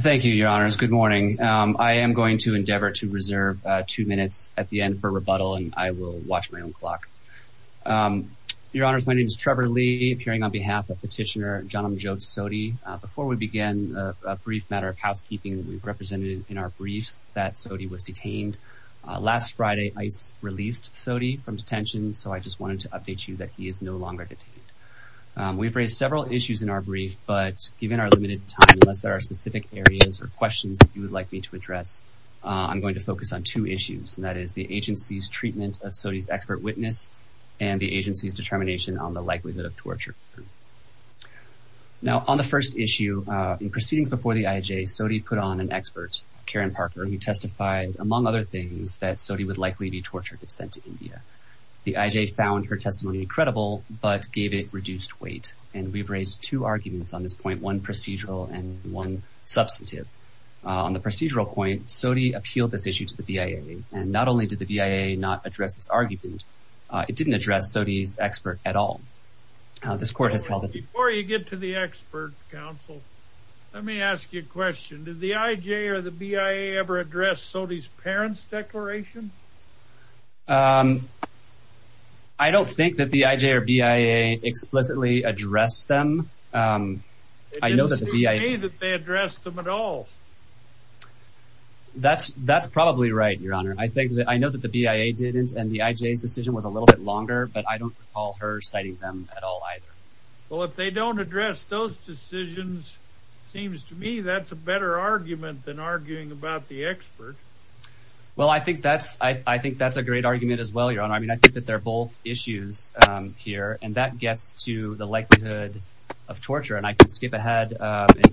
Thank you, your honors. Good morning. I am going to endeavor to reserve two minutes at the end for rebuttal and I will watch my own clock. Your honors, my name is Trevor Lee appearing on behalf of petitioner Janamjet Sodhi. Before we begin a brief matter of housekeeping, we've represented in our briefs that Sodhi was detained. Last Friday, ICE released Sodhi from detention, so I just wanted to update you that he is no longer detained. We've raised several issues in our brief, but given our limited time, unless there are specific areas or questions that you would like me to address, I'm going to focus on two issues, and that is the agency's treatment of Sodhi's expert witness and the agency's determination on the likelihood of torture. Now, on the first issue, in proceedings before the IJ, Sodhi put on an expert, Karen Parker, who testified, among other things, that Sodhi would likely be tortured if sent to India. The IJ found her testimony credible, but gave it reduced weight, and we've raised two arguments on this point, one procedural and one substantive. On the procedural point, Sodhi appealed this issue to the BIA, and not only did the BIA not address this argument, it didn't address Sodhi's expert at all. This court has held... Before you get to the expert, counsel, let me ask you a question. Did the IJ or the BIA ever address Sodhi's parents' declaration? I don't think that the IJ or BIA explicitly addressed them. It didn't seem to me that they addressed them at all. That's probably right, Your Honor. I think that... I know that the BIA didn't, and the IJ's decision was a little bit longer, but I don't recall her citing them at all either. Well, if they don't address those decisions, it seems to me that's a better argument than arguing about the expert. Well, I think that's a great argument as well, Your Honor. I mean, I think that they're both issues here, and that gets to the likelihood of torture, and I can skip ahead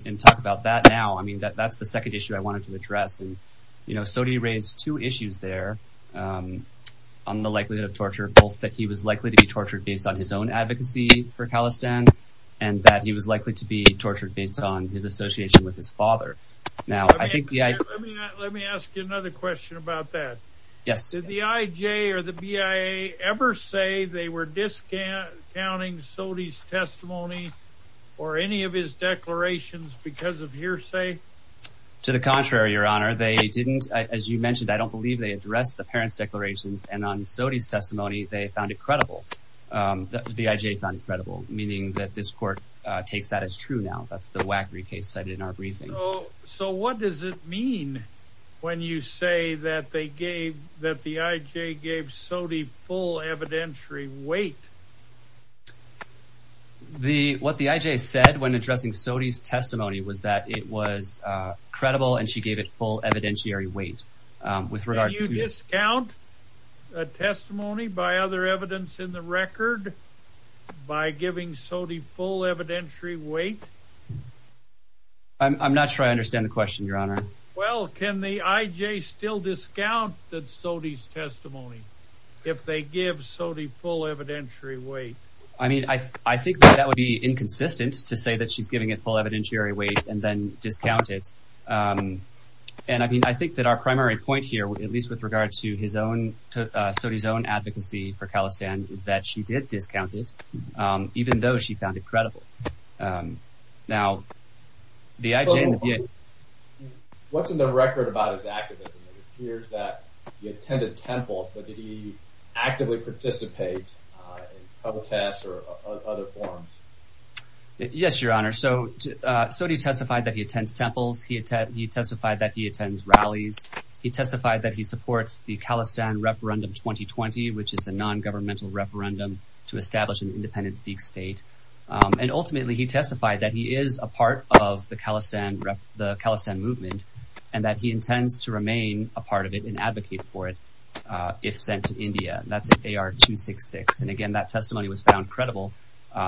and talk about that now. I mean, that's the second issue I wanted to address, and, you know, Sodhi raised two issues there on the likelihood of torture, both that he was likely to be tortured based on his own advocacy for Khalistan, and that he was likely to be tortured based on his association with his father. Now, I think... Let me ask you another question about that. Yes. Did the IJ or the BIA ever say they were discounting Sodhi's testimony or any of his declarations because of hearsay? To the contrary, Your Honor. They didn't, as you mentioned, I don't believe they addressed the parents' declarations, and on Sodhi's the IJ found it credible, meaning that this court takes that as true now. That's the Wackrey case cited in our briefing. So what does it mean when you say that they gave, that the IJ gave Sodhi full evidentiary weight? What the IJ said when addressing Sodhi's testimony was that it was credible, and she gave it full evidentiary weight. Can you discount a testimony by other evidence in the record by giving Sodhi full evidentiary weight? I'm not sure I understand the question, Your Honor. Well, can the IJ still discount Sodhi's testimony if they give Sodhi full evidentiary weight? I mean, I think that would be inconsistent to say that she's giving it full evidentiary weight and then discount it. And I mean, I think that our primary point here, at least with regard to his own, Sodhi's own advocacy for Khalistan, is that she did discount it, even though she found it credible. Now, the IJ... What's in the record about his activism? It appears that he attended temples, but did he actively participate in public tests or other forums? Yes, Your Honor. So Sodhi testified that he attends temples. He testified that he attends rallies. He testified that he supports the Khalistan referendum 2020, which is a non-governmental referendum to establish an independent Sikh state. And ultimately, he testified that he is a part of the Khalistan movement and that he intends to remain a part of it and advocate for it if sent to India. That's AR-266. And again, that testimony was found credible,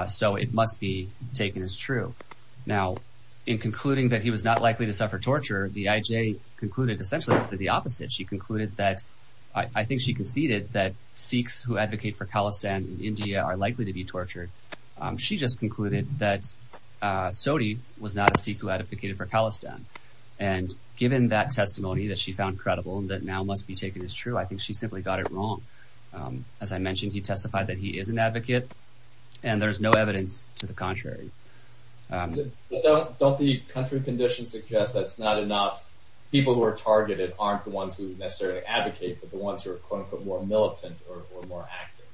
so it must be taken as true. Now, in concluding that he was not likely to suffer torture, the IJ concluded essentially the opposite. She concluded that... I think she conceded that Sikhs who advocate for Khalistan in India are likely to be tortured. She just concluded that Sodhi was not a Sikh who advocated for Khalistan. And given that testimony that she found credible and that now must be taken as true, I think she simply got it wrong. As I mentioned, he testified that he is an advocate, and there's no evidence to the contrary. Don't the country conditions suggest that's not enough? People who are targeted aren't the ones who necessarily advocate, but the ones who are, quote-unquote, more militant or more active?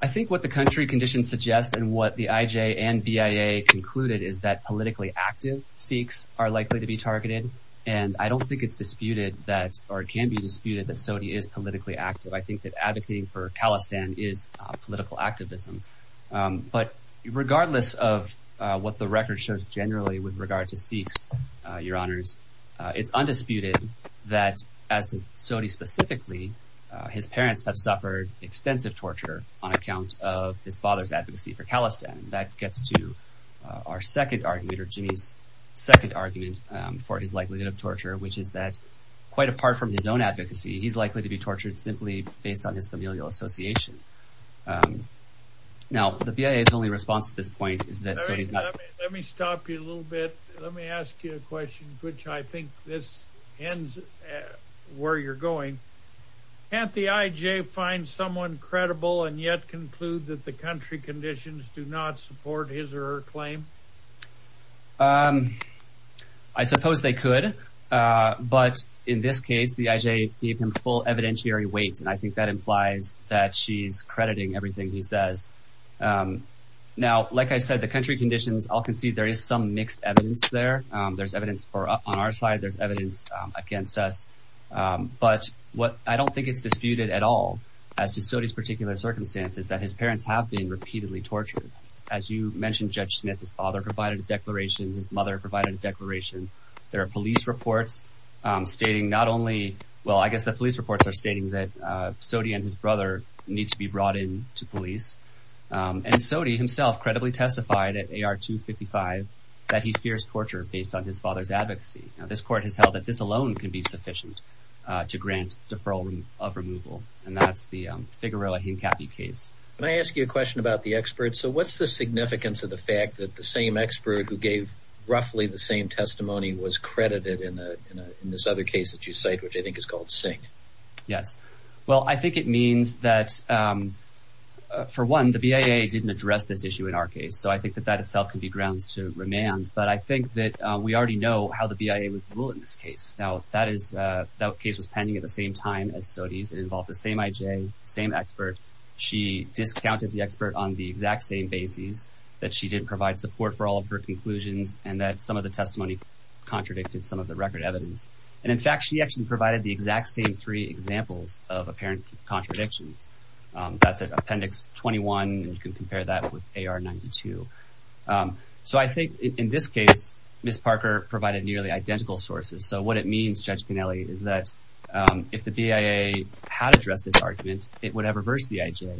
I think what the country conditions suggest and what the IJ and BIA concluded is that politically active Sikhs are likely to be targeted. And I don't think it's disputed that, or it can be disputed that Sodhi is politically active. I think that advocating for Khalistan is political activism. But regardless of what the record shows generally with regard to Sikhs, your honors, it's undisputed that as to Sodhi specifically, his parents have suffered extensive torture on our second argument, or Jimmy's second argument for his likelihood of torture, which is that quite apart from his own advocacy, he's likely to be tortured simply based on his familial association. Now, the BIA's only response to this point is that Sodhi's not- Let me stop you a little bit. Let me ask you a question, which I think this ends where you're going. Can't the IJ find someone credible and yet conclude that the country conditions do not support his or her claim? I suppose they could. But in this case, the IJ gave him full evidentiary weight. And I think that implies that she's crediting everything he says. Now, like I said, the country conditions, I'll concede there is some mixed evidence there. There's evidence for on our side, there's evidence against us. But what I don't think it's disputed at all as to Sodhi's particular circumstances, that his parents have been repeatedly tortured. As you mentioned, Judge Smith, his father provided a declaration. His mother provided a declaration. There are police reports stating not only, well, I guess the police reports are stating that Sodhi and his brother need to be brought in to police. And Sodhi himself credibly testified at AR 255 that he fears torture based on his father's advocacy. Now, this court has held that this alone can be sufficient to grant deferral of removal. And that's the Figueroa Hincapie case. Can I ask you a question about the experts? So what's the significance of the fact that the same expert who gave roughly the same testimony was credited in this other case that you cite, which I think is called Singh? Yes. Well, I think it means that, for one, the BIA didn't address this issue in our case. So I think that that itself can be grounds to remand. But I think that we already know how the BIA would So it involved the same IJ, same expert. She discounted the expert on the exact same basis that she didn't provide support for all of her conclusions and that some of the testimony contradicted some of the record evidence. And in fact, she actually provided the exact same three examples of apparent contradictions. That's Appendix 21. You can compare that with AR 92. So I think in this case, Ms. Parker provided nearly identical sources. So what it means, is that if the BIA had addressed this argument, it would have reversed the IJ,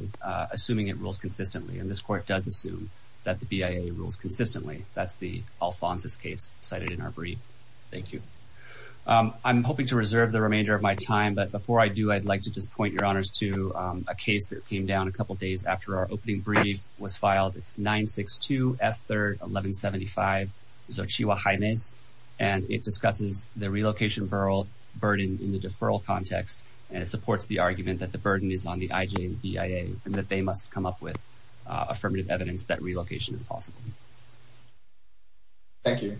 assuming it rules consistently. And this court does assume that the BIA rules consistently. That's the Alphonsus case cited in our brief. Thank you. I'm hoping to reserve the remainder of my time. But before I do, I'd like to just point your honors to a case that came down a couple of days after our opening brief was filed. It's 962 F 3rd 1175 Xochitl Jimenez. And it discusses the relocation burden in the deferral context. And it supports the argument that the burden is on the IJ and BIA and that they must come up with affirmative evidence that relocation is possible. Thank you.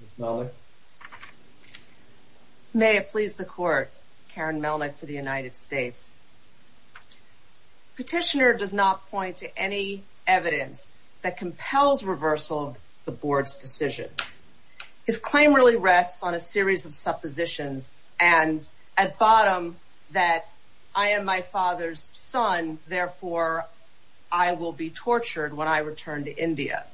Ms. Melnick. May it please the court, Karen Melnick for the United States. Petitioner does not point to any evidence that compels reversal of the board's decision. His claim really rests on a series of suppositions and at bottom that I am my father's son. Therefore, I will be tortured when I return to India.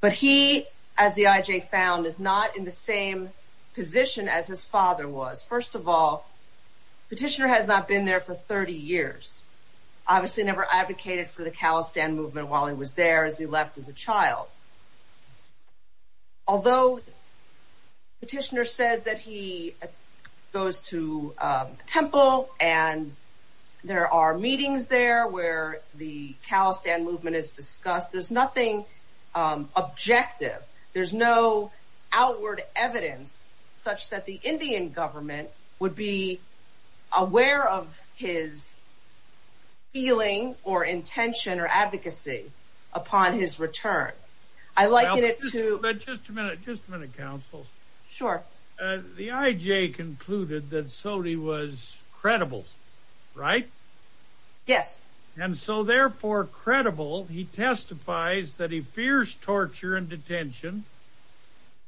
But he, as the IJ found, is not in the same position as his father was. First of all, petitioner has not been there for 30 years, obviously never advocated for the calistan movement while he was there as he left as a child. Although petitioner says that he goes to a temple and there are meetings there where the calistan movement is discussed, there's nothing objective. There's no outward evidence such that the Indian government would be aware of his feeling or intention or advocacy upon his return. I like it too. But just a minute, just a minute, counsel. Sure. The IJ concluded that Sodhi was credible, right? Yes. And so therefore credible, he testifies that he fears torture and detention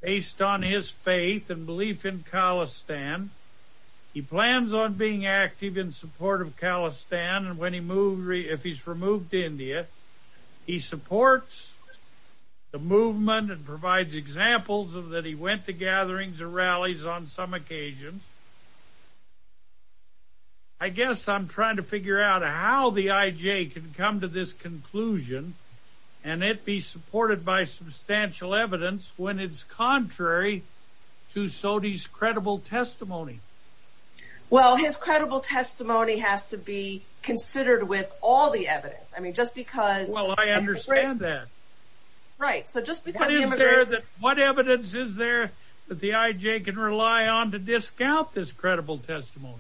based on his faith and belief in calistan. He plans on being active in support of calistan and when he moved, if he's removed to India, he supports the movement and provides examples of that he went to gatherings or rallies on some occasions. I guess I'm trying to figure out how the IJ can come to this conclusion and it be supported by substantial evidence when it's contrary to Sodhi's credible testimony. Well, his credible testimony has to be considered with all the evidence. I mean, just because... Well, I understand that. Right. So just because... What evidence is there that the IJ can rely on to discount this credible testimony?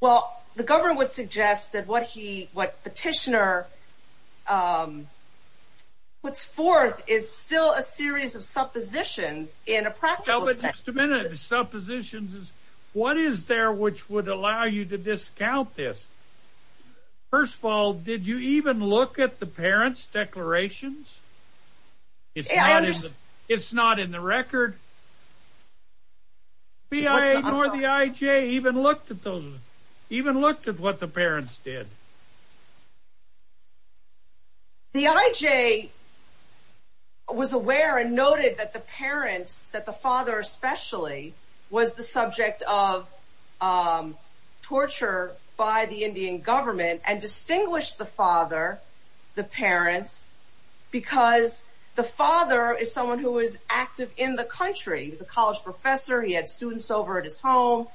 Well, the government would suggest that what he, what petitioner puts forth is still a series of suppositions in a practical sense. Just a minute. Suppositions is, what is there which would allow you to discount this? First of all, did you even look at the parent's declarations? It's not in the record. I'm sorry. The IJ even looked at those, even looked at what the parents did? The IJ was aware and noted that the parents, that the father especially, was the subject of torture by the Indian government and distinguished the father, the parents, because the father is someone who is active in the country. He was a college professor. He had students over at his home,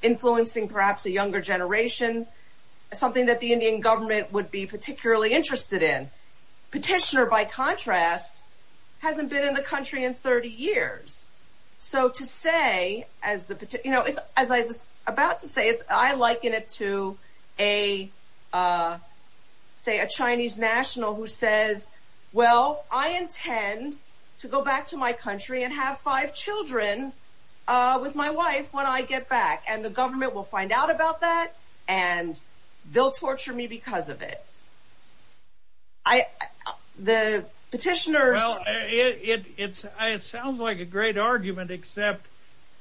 influencing perhaps a younger generation, something that the Indian government would be particularly interested in. Petitioner, by contrast, hasn't been in the country in 30 years. So to say, as I was about to say, I liken it to a, say, a Chinese national who says, well, I intend to go back to my country and have five children with my wife when I get back, and the government will find out about that, and they'll torture me because of it. I, the petitioners... Well, it, it's, it sounds like a great argument, except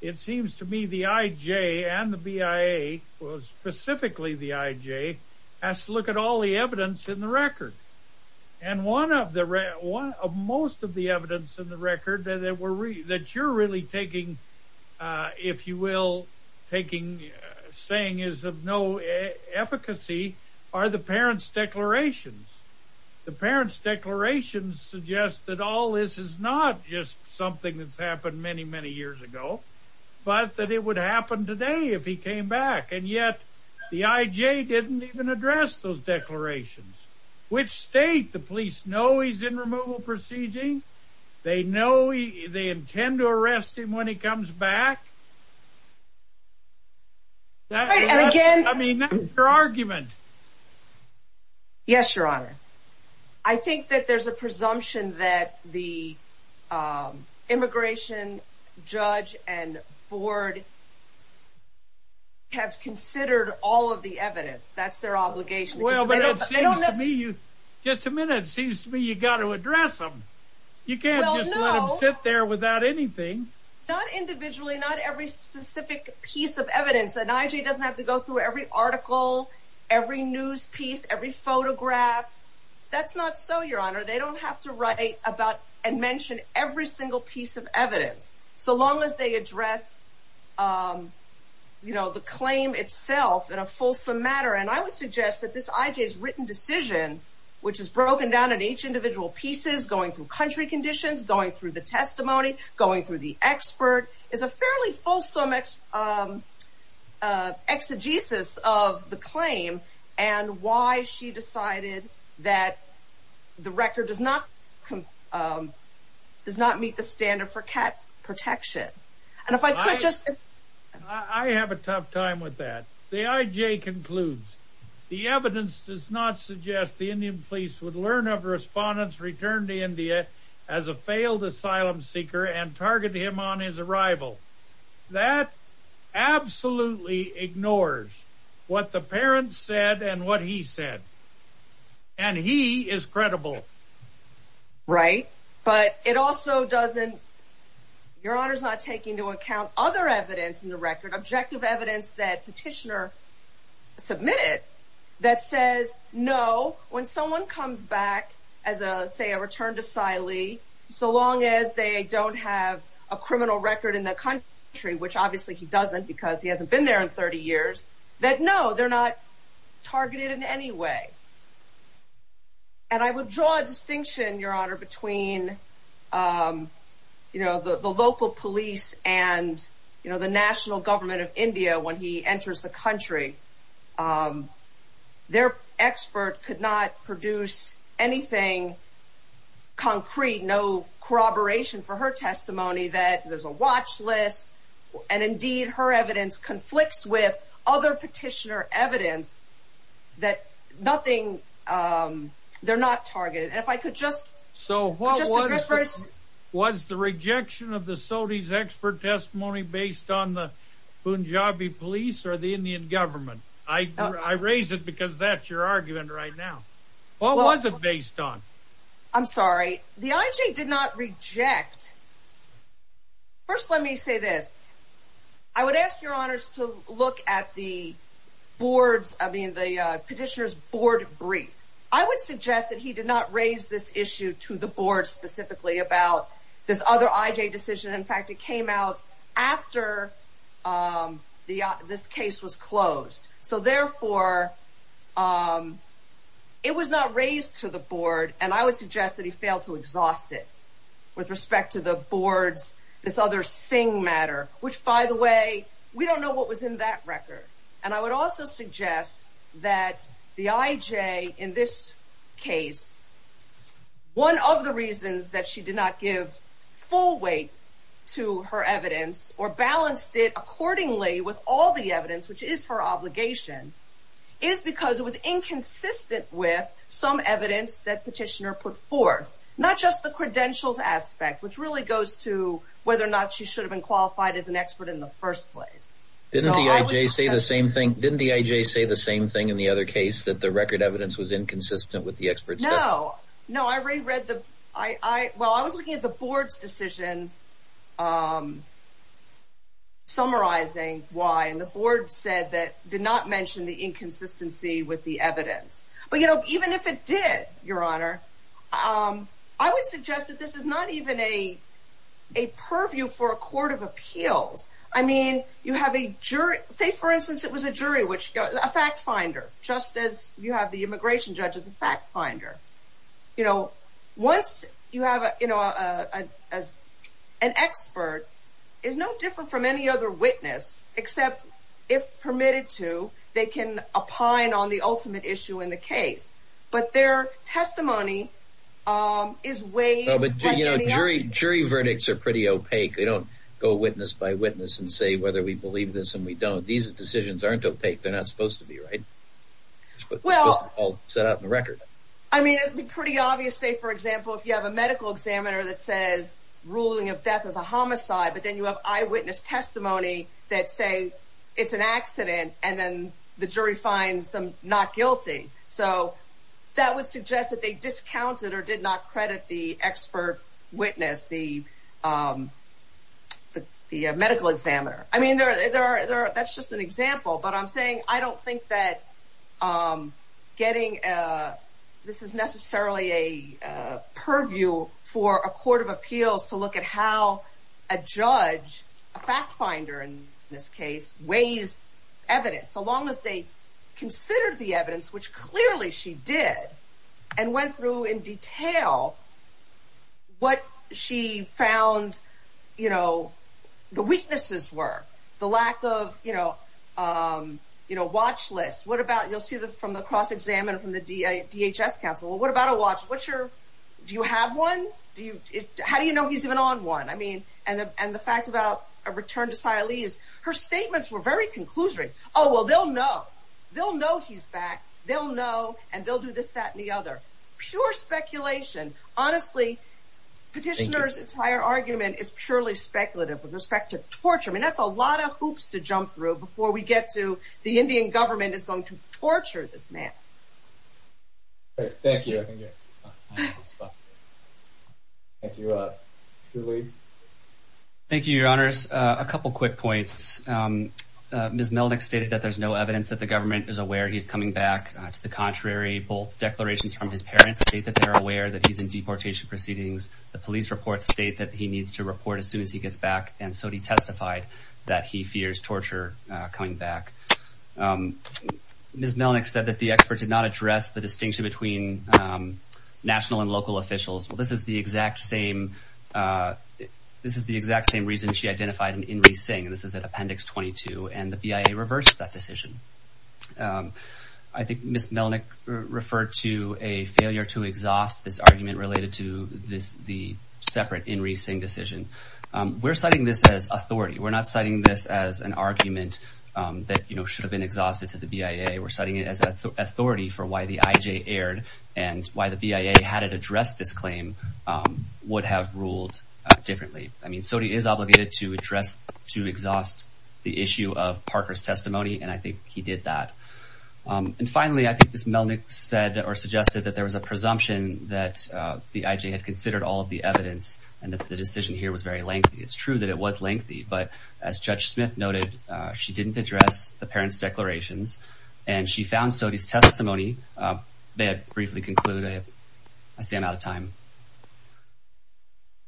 it seems to me the IJ and the BIA, specifically the IJ, has to look at all the evidence in the record. And one of the, one of most of the evidence in the record that were, that you're really taking, if you will, taking, saying is of no efficacy, are the parents' declarations. The parents' declarations suggest that all this is not just something that's happened many, many years ago, but that it would happen today if he came back. And yet, the IJ didn't even address those declarations. Which state? The police know he's in removal proceeding. They know he, they intend to arrest him when he comes back. That's, I mean, that's their argument. Yes, Your Honor. I think that there's a presumption that the immigration judge and board have considered all of the evidence. That's their obligation. Well, but it seems to me you, just a minute, it seems to me you got to address them. You can't just let them sit there without anything. Well, no. Not individually, not every specific piece of evidence. The IJ doesn't have to go every article, every news piece, every photograph. That's not so, Your Honor. They don't have to write about and mention every single piece of evidence. So long as they address, you know, the claim itself in a fulsome manner. And I would suggest that this IJ's written decision, which is broken down at each individual pieces, going through country conditions, going through the testimony, going through the expert, is a fairly fulsome exegesis of the claim and why she decided that the record does not does not meet the standard for cat protection. And if I could just... I have a tough time with that. The IJ concludes, the evidence does not suggest the Indian police would learn of a respondent's return to India as a failed asylum seeker and target him on his arrival. That absolutely ignores what the parents said and what he said. And he is credible. Right. But it also doesn't... Your Honor's not taking into account other evidence in the record, objective evidence that petitioner submitted that says, no, when someone comes back as a, say, a criminal record in the country, which obviously he doesn't because he hasn't been there in 30 years, that no, they're not targeted in any way. And I would draw a distinction, Your Honor, between, you know, the local police and, you know, the national government of India when he enters the country. Their expert could not produce anything concrete, no corroboration for her testimony that there's a watch list. And indeed, her evidence conflicts with other petitioner evidence that nothing, they're not targeted. And if I could just... So what was the rejection of the SOTI's expert testimony based on the Punjabi police or the Indian government? I raise it because that's your argument right now. What was it based on? I'm sorry, the IJ did not reject First, let me say this. I would ask Your Honors to look at the board's, I mean, the petitioner's board brief. I would suggest that he did not raise this issue to the board specifically about this other IJ decision. In fact, it came out after this case was closed. So therefore, it was not raised to the board. And I would suggest that he failed to exhaust it with respect to the board's, this other Singh matter, which, by the way, we don't know what was in that record. And I would also suggest that the IJ in this case, one of the reasons that she did not give full weight to her evidence or balanced it accordingly with all the evidence, which is for obligation, is because it was inconsistent with some evidence that petitioner put forth, not just the credentials aspect, which really goes to whether or not she should have been qualified as an expert in the first place. Didn't the IJ say the same thing? Didn't the IJ say the same thing in the other case that the record evidence was inconsistent with the experts? No, no, I reread the, I, well, I was looking at the board's decision, summarizing why, and the board said that did not mention the inconsistency with the evidence. But, you know, even if it did, your honor, I would suggest that this is not even a purview for a court of appeals. I mean, you have a jury, say for instance, it was a jury, which a fact finder, just as you have the immigration judge as a fact finder. You know, once you have, you know, as an expert, it's no different from any other witness, except if permitted to, they can opine on the ultimate issue in the case, but their testimony is weighed. You know, jury verdicts are pretty opaque. They don't go witness by witness and say whether we believe this and we don't. These decisions aren't opaque. They're not supposed to be, right? Well, set out in the record. I mean, it'd be pretty obvious, say, for example, if you have a medical examiner that says ruling of death is a homicide, but then you have eyewitness testimony that say it's an accident and then the jury finds them not guilty. So that would suggest that they discounted or did not credit the expert witness, the medical examiner. I mean, that's just an example, but I'm saying I don't think that getting, this is necessarily a purview for a court of appeals to look at how a judge, a fact finder in this case, weighs evidence, so long as they considered the evidence, which clearly she did, and went through in detail what she found, you know, the weaknesses were, the lack of, you know, watch list. What about, you'll see from the cross-examiner from the DHS counsel, what about a watch? What's your, do you have one? How do you know he's even on one? I mean, and the fact about a return to Sia Lee's, her statements were very conclusory. Oh, well, they'll know. They'll know he's back. They'll know, and they'll do this, that, and the other. Pure speculation. Honestly, petitioner's entire argument is purely speculative with respect to hoops to jump through before we get to the Indian government is going to torture this man. All right, thank you. Thank you. Thank you, your honors. A couple quick points. Ms. Melnick stated that there's no evidence that the government is aware he's coming back. To the contrary, both declarations from his parents state that they're aware that he's in deportation proceedings. The police reports state that he needs to report as soon as he gets back, and so he testified that he fears torture coming back. Ms. Melnick said that the experts did not address the distinction between national and local officials. Well, this is the exact same, this is the exact same reason she identified in In-Re-Sing, and this is at appendix 22, and the BIA reversed that decision. I think Ms. Melnick referred to a failure to exhaust this argument related to this, the separate In-Re-Sing decision. We're citing this as authority. We're not citing this as an argument that, you know, should have been exhausted to the BIA. We're citing it as authority for why the IJ erred and why the BIA, had it addressed this claim, would have ruled differently. I mean, SOTI is obligated to address, to exhaust the issue of Parker's testimony, and I think he did that. And finally, I think Ms. Melnick said or suggested that there was a presumption that the IJ had considered all of the evidence, and that the decision here was very lengthy. It's true that it was lengthy, but as Judge Smith noted, she didn't address the parents' declarations, and she found SOTI's testimony, may I briefly conclude, I see I'm out of time.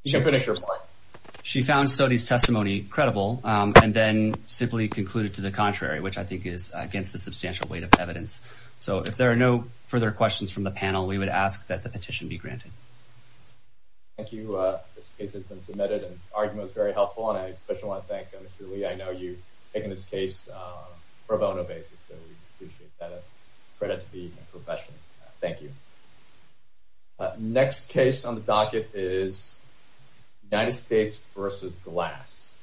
You can finish your point. She found SOTI's testimony credible, and then simply concluded to the contrary, which I think is against the substantial weight of evidence. So if there are no further questions from the panel, we would ask that the petition be granted. Thank you. This case has been submitted, and the argument was very helpful, and I especially want to thank Mr. Lee. I know you've taken this case for a bono basis, so we appreciate that. It's a credit to the profession. Thank you. Next case on the docket is United States v. Glass.